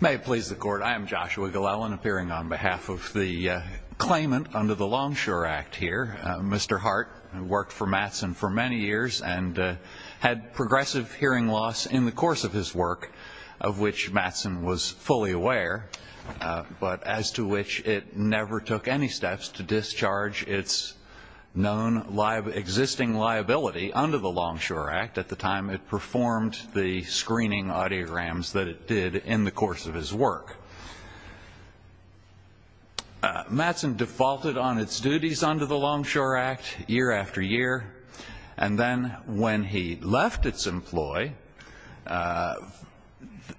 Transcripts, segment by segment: May it please the Court, I am Joshua Glellen, appearing on behalf of the claimant under the Longshore Act here. Mr. Hart worked for Matson for many years and had progressive hearing loss in the course of his work, of which Matson was fully aware, but as to which it never took any steps to discharge its known existing liability under the Longshore Act at the time it performed the screening audiograms that it did in the course of his work. Matson defaulted on its duties under the Longshore Act year after year, and then when he left its employ,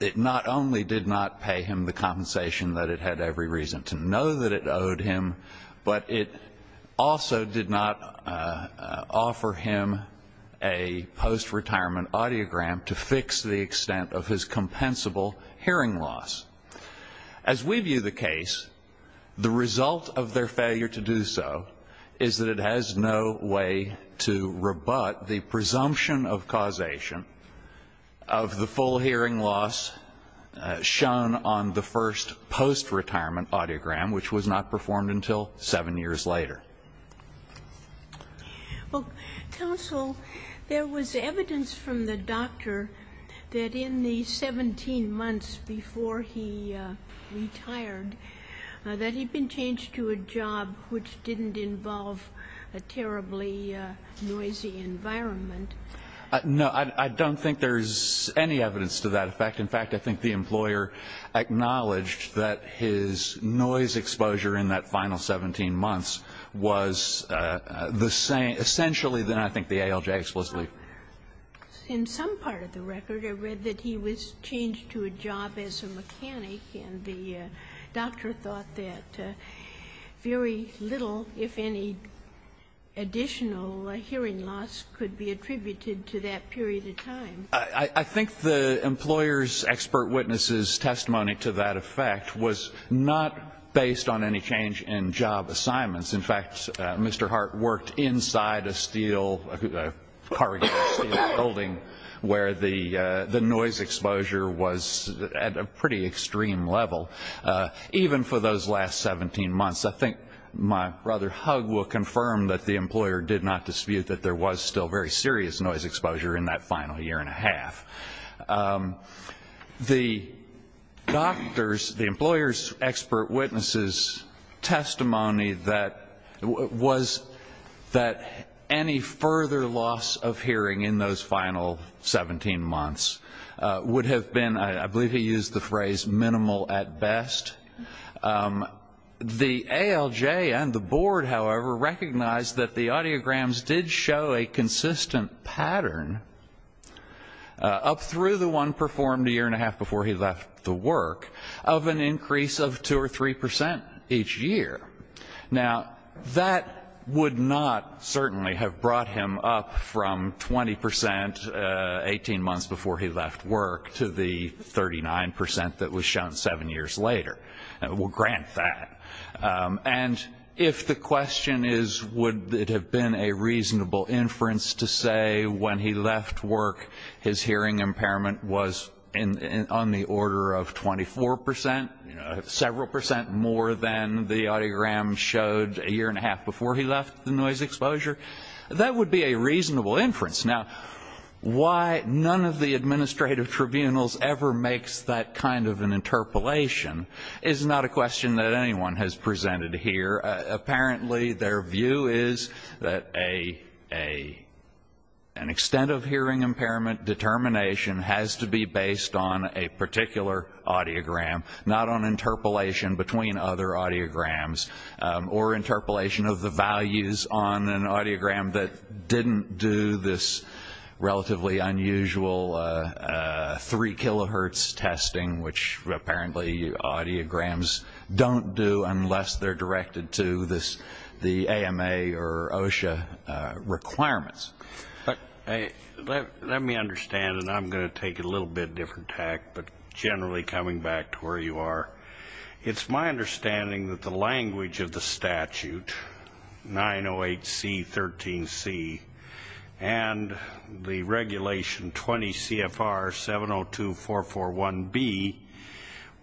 it not only did not pay him the compensation that it had every reason to know that it owed him, but it also did not offer him a post-retirement audiogram to fix the extent of his compensable hearing loss. As we view the case, the result of their failure to do so is that it has no way to rebut the presumption of causation of the full hearing loss shown on the first post-retirement audiogram, which was not performed until seven years later. GOTTLIEB Well, counsel, there was evidence from the doctor that in the 17 months before he retired, that he had been changed to a job which didn't involve a terribly noisy environment. MR. GOLDSMITH No, I don't think there's any evidence to that effect. In fact, I think the employer acknowledged that his noise exposure in that final 17 months was the same, essentially, than I think the ALJ explicitly. MS. GOTTLIEB In some part of the record, I read that he was changed to a job as a mechanic, and the doctor thought that very little, if any, additional MR. GOLDSMITH This expert witness' testimony to that effect was not based on any change in job assignments. In fact, Mr. Hart worked inside a steel, a corrugated steel building where the noise exposure was at a pretty extreme level. Even for those last 17 months, I think my brother Hug will confirm that the employer did not dispute that there was still very serious noise exposure in that final year and a half. The doctor's, the employer's expert witness' testimony was that any further loss of hearing in those final 17 months would have been, I believe he used the phrase, minimal at best. The ALJ and the board, however, recognized that the audiograms did show a consistent pattern up through the one performed a year and a half before he left the work of an increase of 2 or 3 percent each year. Now that would not certainly have brought him up from 20 percent 18 months before he later. We'll grant that. And if the question is would it have been a reasonable inference to say when he left work his hearing impairment was on the order of 24 percent, several percent more than the audiogram showed a year and a half before he left the noise exposure, that would be a reasonable inference. Now why none of the administrative tribunals ever makes that kind of an interpolation is not a question that anyone has presented here. Apparently their view is that an extent of hearing impairment determination has to be based on a particular audiogram, not on interpolation between other audiograms or interpolation of the values on an audiogram that didn't do this relatively unusual 3 kilohertz testing which apparently audiograms don't do unless they're directed to the AMA or OSHA requirements. Let me understand, and I'm going to take a little bit different tack, but generally coming back to where you are. It's my understanding that the language of the statute, 908C.13c, and the regulation 20 CFR 702441B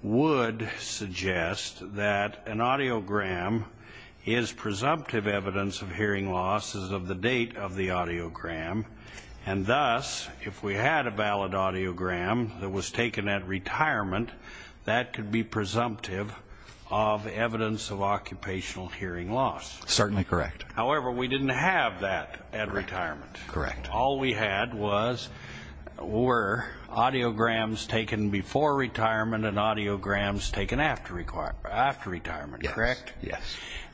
would suggest that an audiogram is presumptive evidence of hearing loss as of the date of the audiogram, and thus if we had a valid audiogram that was taken at retirement, that could be presumptive of evidence of occupational hearing loss. Certainly correct. However, we didn't have that at retirement. All we had were audiograms taken before retirement and audiograms taken after retirement, correct? Yes.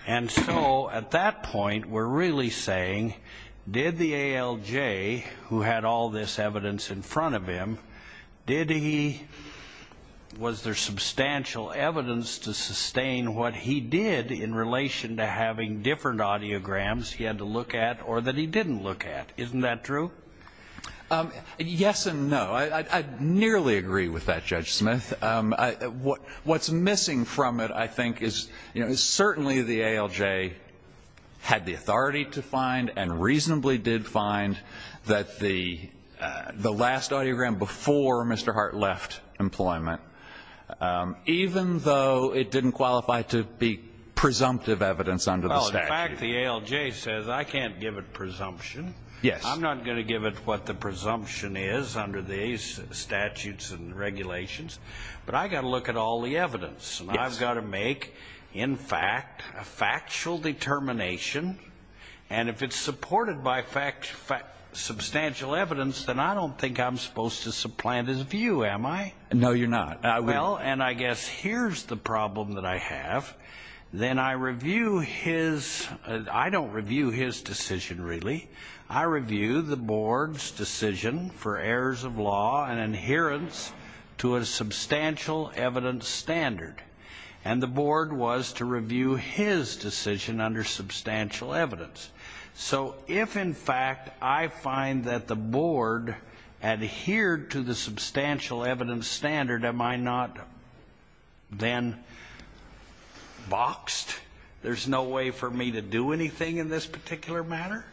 And so at that point we're really saying, did the ALJ who had all this evidence in front of him, did he, was there substantial evidence to sustain what he did in relation to having different audiograms he had to look at or that he didn't look at? Isn't that true? Yes and no. I nearly agree with that, Judge Smith. What's missing from it, I think, is certainly the ALJ had the authority to find and reasonably did find that the last audiogram before Mr. Hart left employment, even though it didn't qualify to be presumptive evidence under the statute. Well, in fact, the ALJ says, I can't give it presumption. Yes. I'm not going to give it what the presumption is under these statutes and regulations, but I've got to look at all the evidence. Yes. And I've got to make, in fact, a factual determination. And if it's supported by substantial evidence, then I don't think I'm supposed to supplant his view, am I? No, you're not. Well, and I guess here's the problem that I have. Then I review his, I don't review his decision, really. I review the board's decision for errors of law and adherence to a substantial evidence standard, and the board was to review his decision under substantial evidence. So if, in fact, I find that the board adhered to the substantial evidence standard, am I not then boxed? There's no way for me to do anything in this particular matter?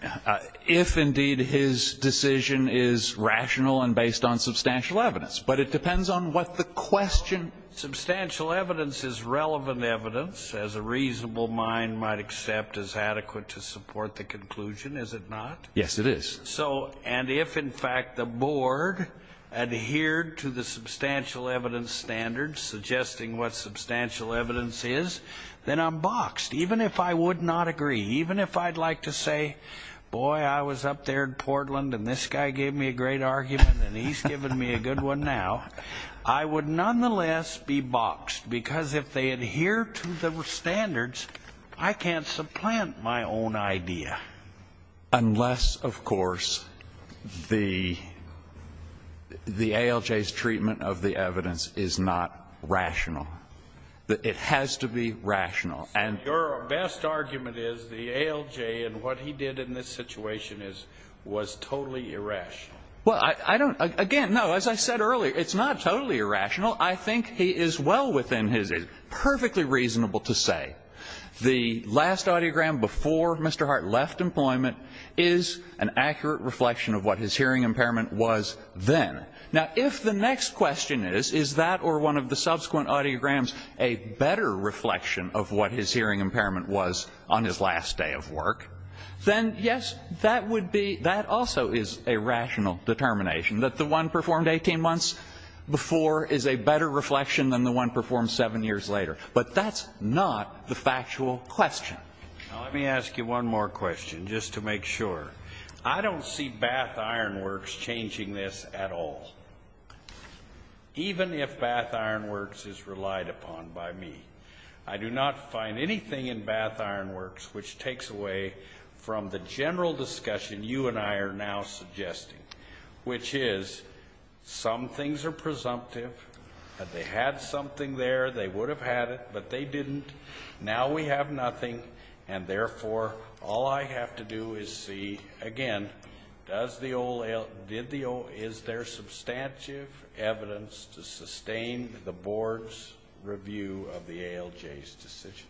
If indeed his decision is rational and based on substantial evidence. But it depends on what the question. Substantial evidence is relevant evidence, as a reasonable mind might accept as adequate to support the conclusion, is it not? Yes, it is. So, and if, in fact, the board adhered to the substantial evidence standard, suggesting what substantial evidence is, then I'm boxed. Even if I would not agree, even if I'd like to say, boy, I was up there in Portland and this guy gave me a great argument and he's given me a good one now, I would nonetheless be boxed, because if they adhere to the standards, I can't supplant my own idea. Unless, of course, the ALJ's treatment of the evidence is not rational. It has to be rational. And your best argument is the ALJ and what he did in this situation is, was totally irrational. Well, I don't, again, no, as I said earlier, it's not totally irrational. I think he is well within his, perfectly reasonable to say the last audiogram before Mr. Hart left employment is an accurate reflection of what his hearing impairment was then. Now, if the next question is, is that or one of the subsequent audiograms a better reflection of what his hearing impairment was on his last day of work, then, yes, that would be, that also is a rational determination, that the one performed 18 months before is a better reflection than the one performed seven years later. But that's not the factual question. Now, let me ask you one more question, just to make sure. I don't see Bath Iron Works changing this at all, even if Bath Iron Works is relied upon by me. I do not find anything in Bath Iron Works which takes away from the general discussion you and I are now suggesting, which is, some things are presumptive, that they had something there, they would have had it, but they didn't. Now we have nothing, and therefore, all I have to do is see, again, does the, is there a presumption on ALJ's decision?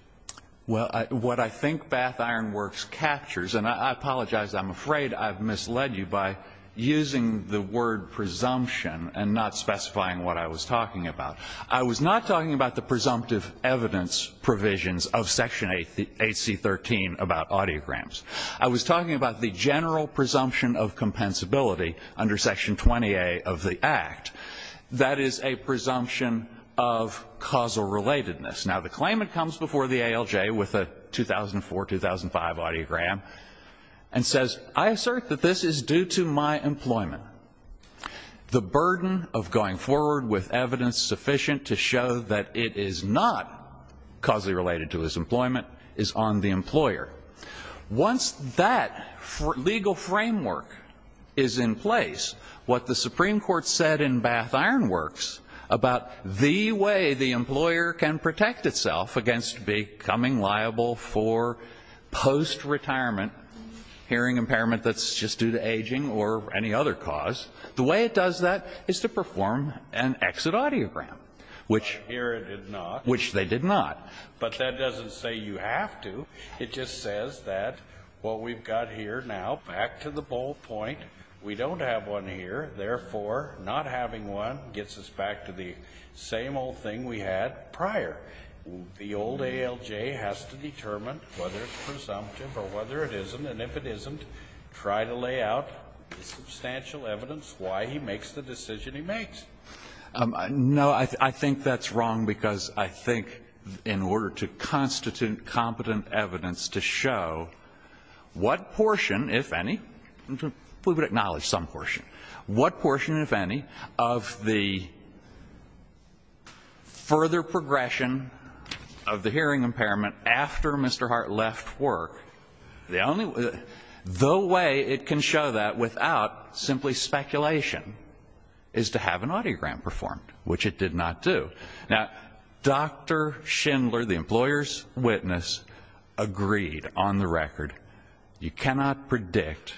Well, what I think Bath Iron Works captures, and I apologize, I'm afraid I've misled you by using the word presumption and not specifying what I was talking about. I was not talking about the presumptive evidence provisions of Section 8C13 about audiograms. I was talking about the general presumption of compensability under Section 20A of the Act. That is a presumption of causal relatedness. Now the claimant comes before the ALJ with a 2004-2005 audiogram and says, I assert that this is due to my employment. The burden of going forward with evidence sufficient to show that it is not causally related to his employment is on the employer. Once that legal framework is in place, what the Supreme Court said in Bath Iron Works about the way the employer can protect itself against becoming liable for post-retirement hearing impairment that's just due to aging or any other cause, the way it does that is to perform an exit audiogram, which they did not. But that doesn't say you have to. It just says that what we've got here now, back to the bull point, we don't have one here, therefore, not having one gets us back to the same old thing we had prior. The old ALJ has to determine whether it's presumptive or whether it isn't, and if it isn't, try to lay out the substantial evidence why he makes the decision he makes. No, I think that's wrong, because I think in order to constitute competent evidence to show what portion, if any, we would acknowledge some portion, what portion, if any, of the further progression of the hearing impairment after Mr. Hart left work, the only way it can show that without simply speculation is to have an audiogram performed, which it did not do. Now, Dr. Schindler, the employer's witness, agreed on the record, you cannot predict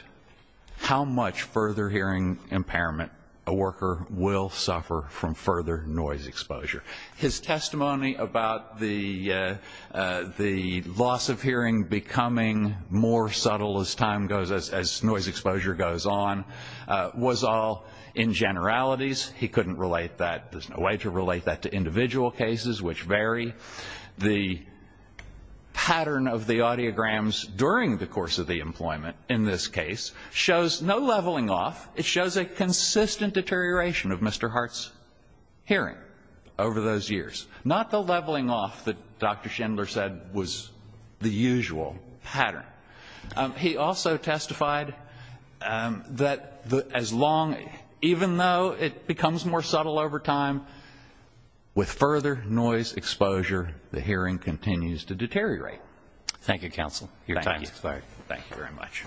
how much further hearing impairment a worker will suffer from further noise exposure. His testimony about the loss of hearing becoming more subtle as time goes, as noise exposure goes on, was all in generalities. He couldn't relate that, there's no way to relate that to individual cases, which vary. The pattern of the audiograms during the course of the employment, in this case, shows no leveling off. It shows a consistent deterioration of Mr. Hart's hearing over those years, not the leveling off that Dr. Schindler said was the usual pattern. He also testified that as long, even though it becomes more subtle over time, with further noise exposure, the hearing continues to deteriorate. Thank you, counsel. Your time has expired. Thank you very much.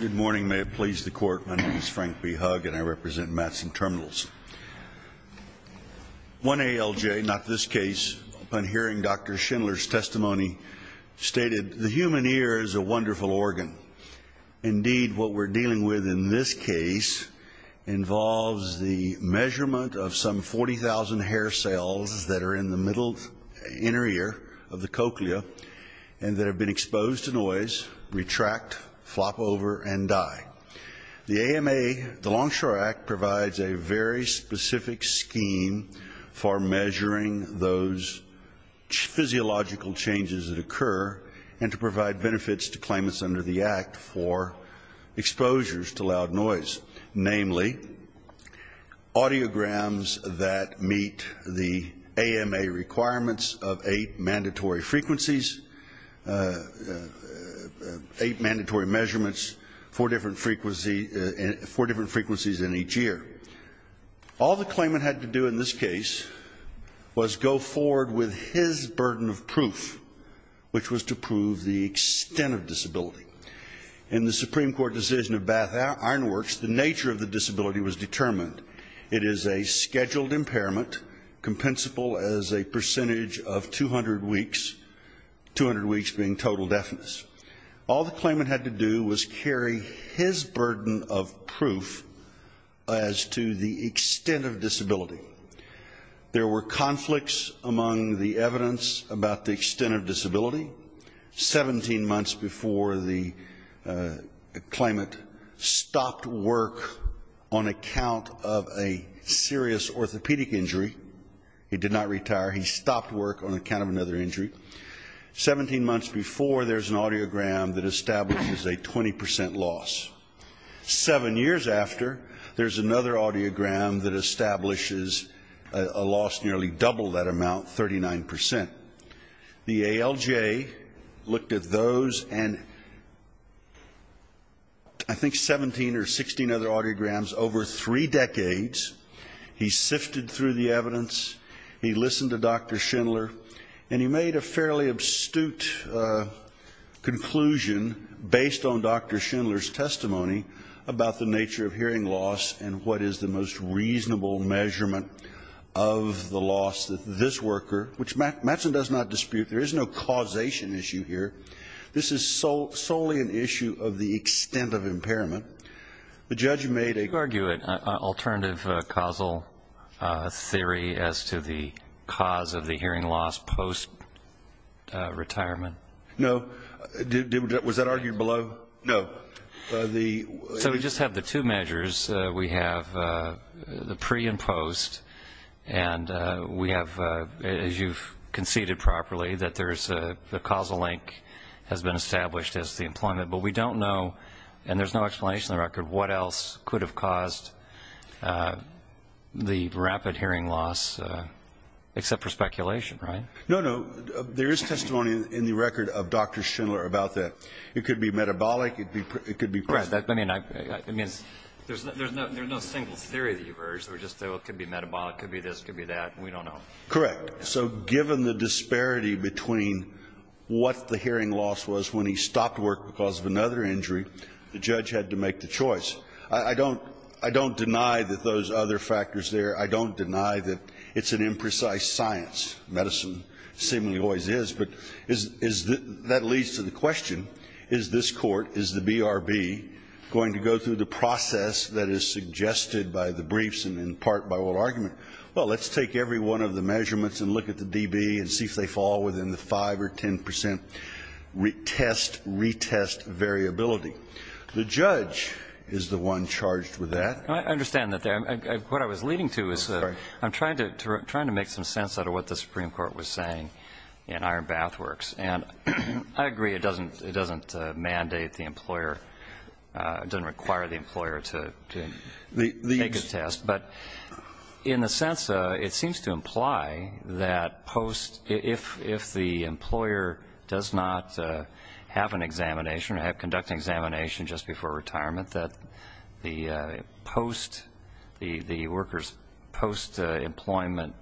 Good morning. May it please the Court. My name is Frank B. Hug, and I represent Matson Terminals. One ALJ, not this case, upon hearing Dr. Schindler's testimony, stated, the human ear is a wonderful organ. Indeed, what we're dealing with in this case involves the measurement of some 40,000 hair cells that are in the middle inner ear of the cochlea, and that have been exposed to noise, retract, flop over, and die. The AMA, the Longshore Act, provides a very specific scheme for measuring those physiological changes that occur, and to provide benefits to claimants under the Act for exposures to loud noise, namely, audiograms that meet the AMA requirements of eight mandatory frequencies, eight mandatory measurements, four different frequencies in each ear. All the claimant had to do in this case was go forward with his burden of proof, which was to prove the extent of disability. In the Supreme Court decision of Bath Ironworks, the nature of the disability was determined. It is a scheduled impairment, compensable as a percentage of 200 weeks, 200 weeks being total deafness. All the claimant had to do was carry his burden of proof as to the extent of disability. There were conflicts among the evidence about the extent of disability. Seventeen months before the claimant stopped work on account of a serious orthopedic injury, he did not retire, he stopped work on account of another injury. Seventeen months before there's an audiogram that establishes a 20 percent loss. Seven years after, there's another audiogram that establishes a loss nearly double that amount, 39 percent. The ALJ looked at those and I think 17 or 16 other audiograms over three decades. He sifted through the evidence, he listened to Dr. Schindler, and he made a fairly abstrute conclusion based on Dr. Schindler's testimony about the nature of hearing loss and what that means. And that's what does not dispute. There is no causation issue here. This is solely an issue of the extent of impairment. The judge made a... You argue an alternative causal theory as to the cause of the hearing loss post-retirement? No. Was that argued below? No. So we just have the two measures. We have the pre and post, and we have, as you've considered properly, that there's a causal link has been established as the employment. But we don't know, and there's no explanation on the record, what else could have caused the rapid hearing loss, except for speculation, right? No, no. There is testimony in the record of Dr. Schindler about that. It could be metabolic, it could be... Correct. I mean, there's no single theory that you've urged. It could be metabolic, it could be this, it could be that. We don't know. Correct. So given the disparity between what the hearing loss was when he stopped work because of another injury, the judge had to make the choice. I don't deny that those other factors there, I don't deny that it's an imprecise science. Medicine seemingly always is. But that leads to the question, is this court, is the BRB, going to go through the process that is suggested by the briefs and in part by what argument? Well, let's take every one of the measurements and look at the DB and see if they fall within the 5 or 10% test retest variability. The judge is the one charged with that. I understand that there. What I was leading to is I'm trying to make some sense out of what the Supreme Court was saying in Iron Bath Works. And I agree, it doesn't mandate the employer, it doesn't require the employer to take a test. But in a sense, it seems to imply that post, if the employer does not have an examination or have conducted an examination just before retirement, that the post, the workers' post-employment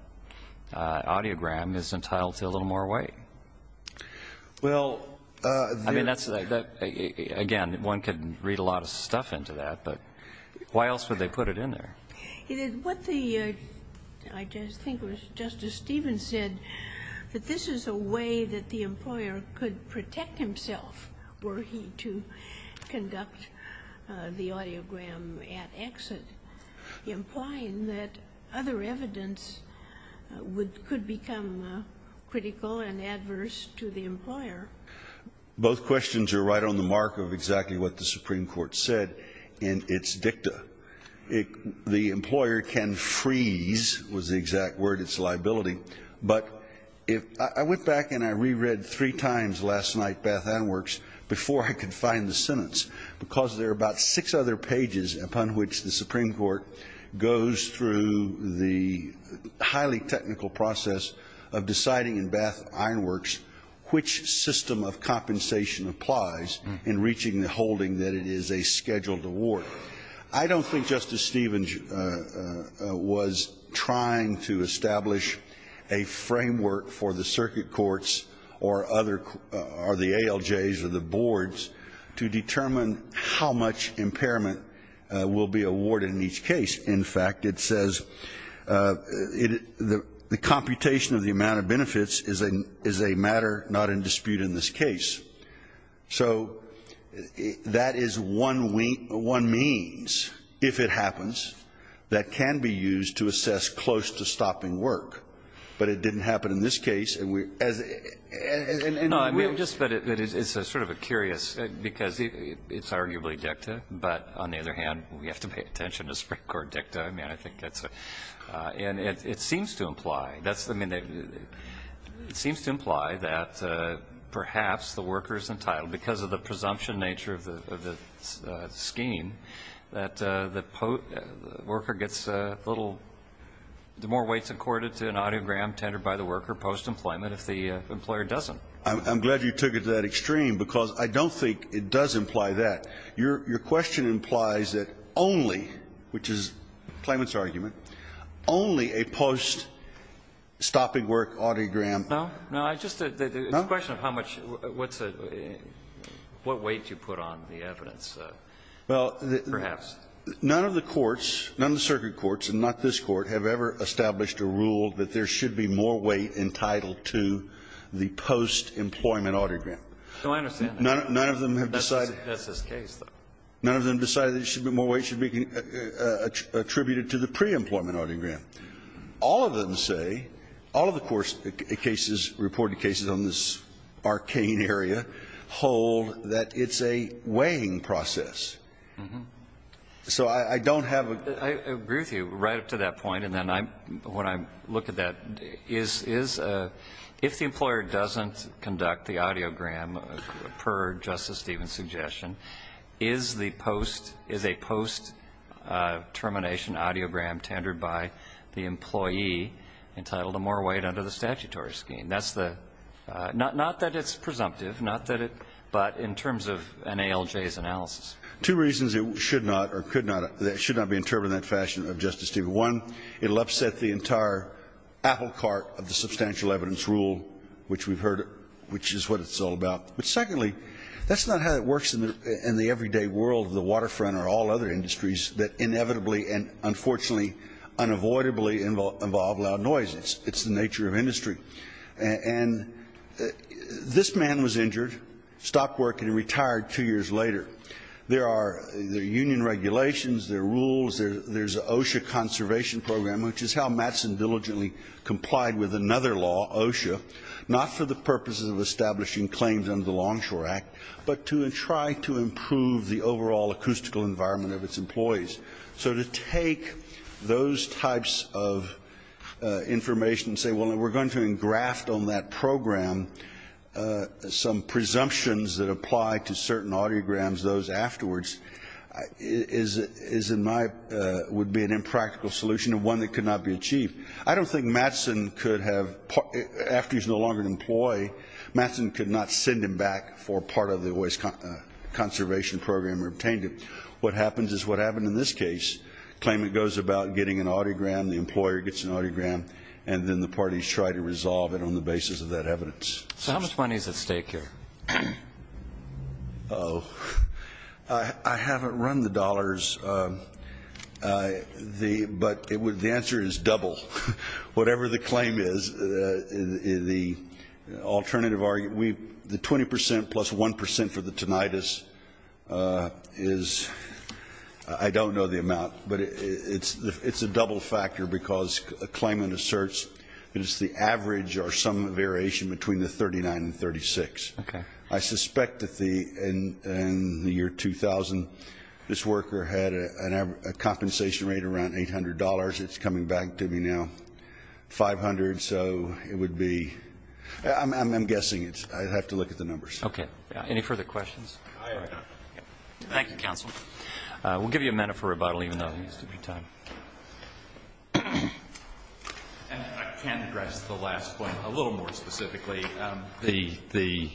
audiogram is entitled to a little more weight. Well, I mean, that's, again, one could read a lot of stuff into that, but why else would they put it in there? What the, I think it was Justice Stevens said, that this is a way that the employer could protect himself were he to conduct the audiogram at exit, implying that other evidence would, could become critical and adverse to the employer. Both questions are right on the mark of exactly what the Supreme Court said in its dicta. The employer can freeze, was the exact word, its liability. But if, I went back and I re-read three times last night Bath Iron Works before I could find the sentence, because there are about six other pages upon which the Supreme Court goes through the highly technical process of deciding in Bath Iron Works which system of compensation applies in reaching the holding that it is a scheduled award. I don't think Justice Stevens was trying to establish a framework for the circuit courts or other, or the ALJs or the boards to determine how much impairment will be awarded in each case. In fact, it says, the computation of the amount of benefits is a matter not in dispute in this case. So that is one we, one means, if it happens, that can be used to assess close to stopping work, but it didn't happen in this case and we, as, and. Roberts. No, I mean, I just, it's sort of a curious because it's arguably dicta, but on the other hand, we have to pay attention to Supreme Court dicta. I mean, I think that's a, and it seems to imply, that's, I mean, it seems to imply that perhaps the worker is entitled, because of the presumption nature of the scheme, that the worker gets a little, more weights accorded to an audiogram tendered by the worker post-employment if the employer doesn't. I'm glad you took it to that extreme because I don't think it does imply that. Your question implies that only, which is the claimant's argument, only a post-stopping work audiogram. No? No, I just, it's a question of how much, what's a, what weight you put on the evidence. Well, the. Perhaps. None of the courts, none of the circuit courts, and not this Court, have ever established a rule that there should be more weight entitled to the post-employment audiogram. No, I understand. None of them have decided. That's this case, though. None of them have decided that there should be more weight attributed to the pre-employment audiogram. All of them say, all of the court's cases, reported cases on this arcane area, hold that it's a weighing process. So I don't have a. I agree with you right up to that point. And then I'm, when I look at that, is, is, if the employer doesn't conduct the audiogram, per Justice Stevens' suggestion, is the post, is a post-termination audiogram tendered by the employee entitled to more weight under the statutory scheme. That's the, not that it's presumptive, not that it, but in terms of NALJ's analysis. Two reasons it should not or could not, should not be interpreted in that fashion of Justice Stevens. One, it'll upset the entire apple cart of the substantial evidence rule, which we've heard, which is what it's all about. But secondly, that's not how it works in the, in the everyday world of the waterfront or all other industries that inevitably and unfortunately, unavoidably involve loud noise. It's the nature of industry. And this man was injured, stopped working and retired two years later. There are, there are union regulations, there are rules, there's OSHA conservation program, which is how Mattson diligently complied with another law, OSHA, not for the purposes of establishing claims under the Longshore Act, but to try to improve the overall acoustical environment of its employees. So to take those types of information and say, well, we're going to engraft on that program some presumptions that apply to certain audiograms, those afterwards, is in my, would be an impractical solution and one that could not be achieved. I don't think Mattson could have, after he's no longer an employee, Mattson could not send him back for part of the OSHA conservation program or obtain it. What happens is what happened in this case. Claimant goes about getting an audiogram, the employer gets an audiogram, and then the parties try to resolve it on the basis of that evidence. So how much money is at stake here? Oh, I haven't run the dollars, but the answer is double. Whatever the claim is, the alternative argument, the 20% plus 1% for the tinnitus is, I don't know the amount, but it's a double factor because a claimant asserts that it's the average or some variation between the 39 and 36. I suspect that in the year 2000 this worker had a compensation rate around $800. It's coming back to me now, $500. So it would be, I'm guessing it's, I'd have to look at the numbers. Okay. Any further questions? Thank you, counsel. We'll give you a minute for rebuttal even though there needs to be time. And I can address the last point a little more specifically. The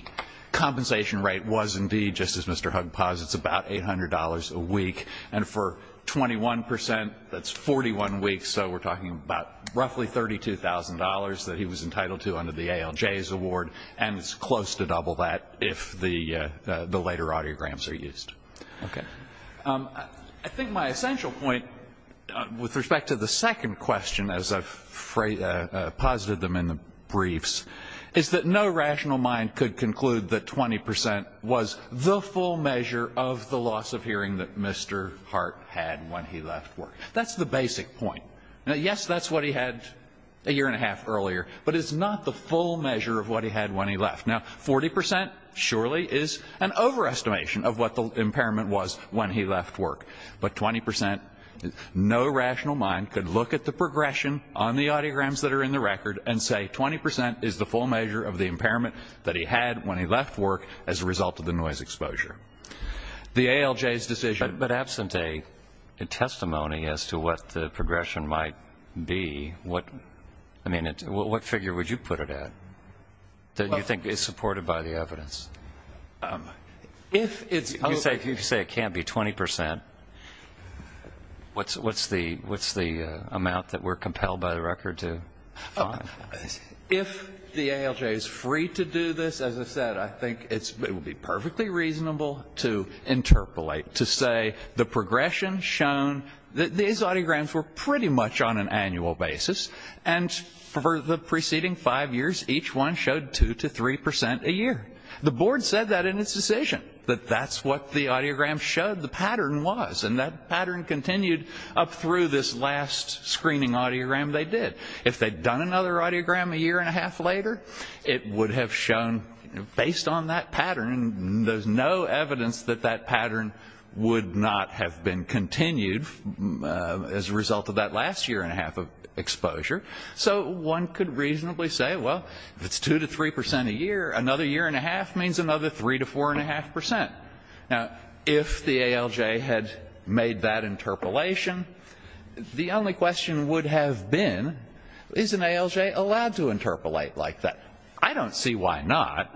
compensation rate was indeed, just as Mr. Hugg posits, about $800 a week, and for 21%, that's 41 weeks. So we're talking about roughly $32,000 that he was entitled to under the ALJ's award, and it's close to double that if the later audiograms are used. Okay. I think my essential point with respect to the second question, as I've posited them in the briefs, is that no rational mind could conclude that 20% was the full measure of the loss of hearing that Mr. Hart had when he left work. That's the basic point. Now, yes, that's what he had a year and a half earlier, but it's not the full measure of what he had when he left. Now, 40% surely is an overestimation of what the impairment was when he left work. But 20%, no rational mind could look at the progression on the audiograms that are in the record and say 20% is the full measure of the impairment that he had when he left work as a result of the noise exposure. The ALJ's decision. But absent a testimony as to what the progression might be, what figure would you put it at that you think is supported by the evidence? If you say it can't be 20%, what's the amount that we're compelled by the record to find? If the ALJ is free to do this, as I said, I think it would be perfectly reasonable to interpolate, to say the progression shown, these audiograms were pretty much on an annual basis, and for the preceding five years each one showed 2% to 3% a year. The board said that in its decision, that that's what the audiogram showed the pattern was, and that pattern continued up through this last screening audiogram they did. If they'd done another audiogram a year and a half later, it would have shown, based on that pattern, there's no evidence that that pattern would not have been continued as a result of that last year and a half of exposure. So one could reasonably say, well, if it's 2% to 3% a year, another year and a half means another 3% to 4.5%. Now, if the ALJ had made that interpolation, the only question would have been, is an ALJ allowed to interpolate like that? I don't see why not,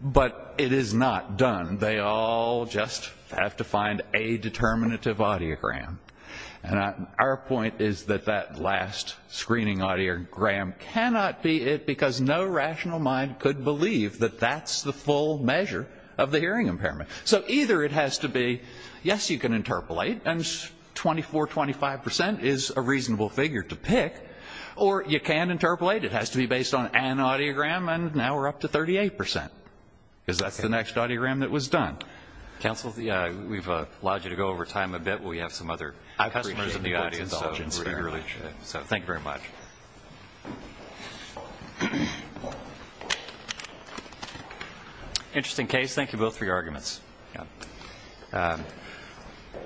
but it is not done. They all just have to find a determinative audiogram. And our point is that that last screening audiogram cannot be it, because no rational mind could believe that that's the full measure of the hearing impairment. So either it has to be, yes, you can interpolate, and 24%, 25% is a reasonable figure to pick, or you can interpolate. It has to be based on an audiogram, and now we're up to 38%, because that's the next audiogram that was done. Counsel, we've allowed you to go over time a bit. We have some other customers in the audience, so thank you very much. Thank you. Interesting case. Thank you both for your arguments.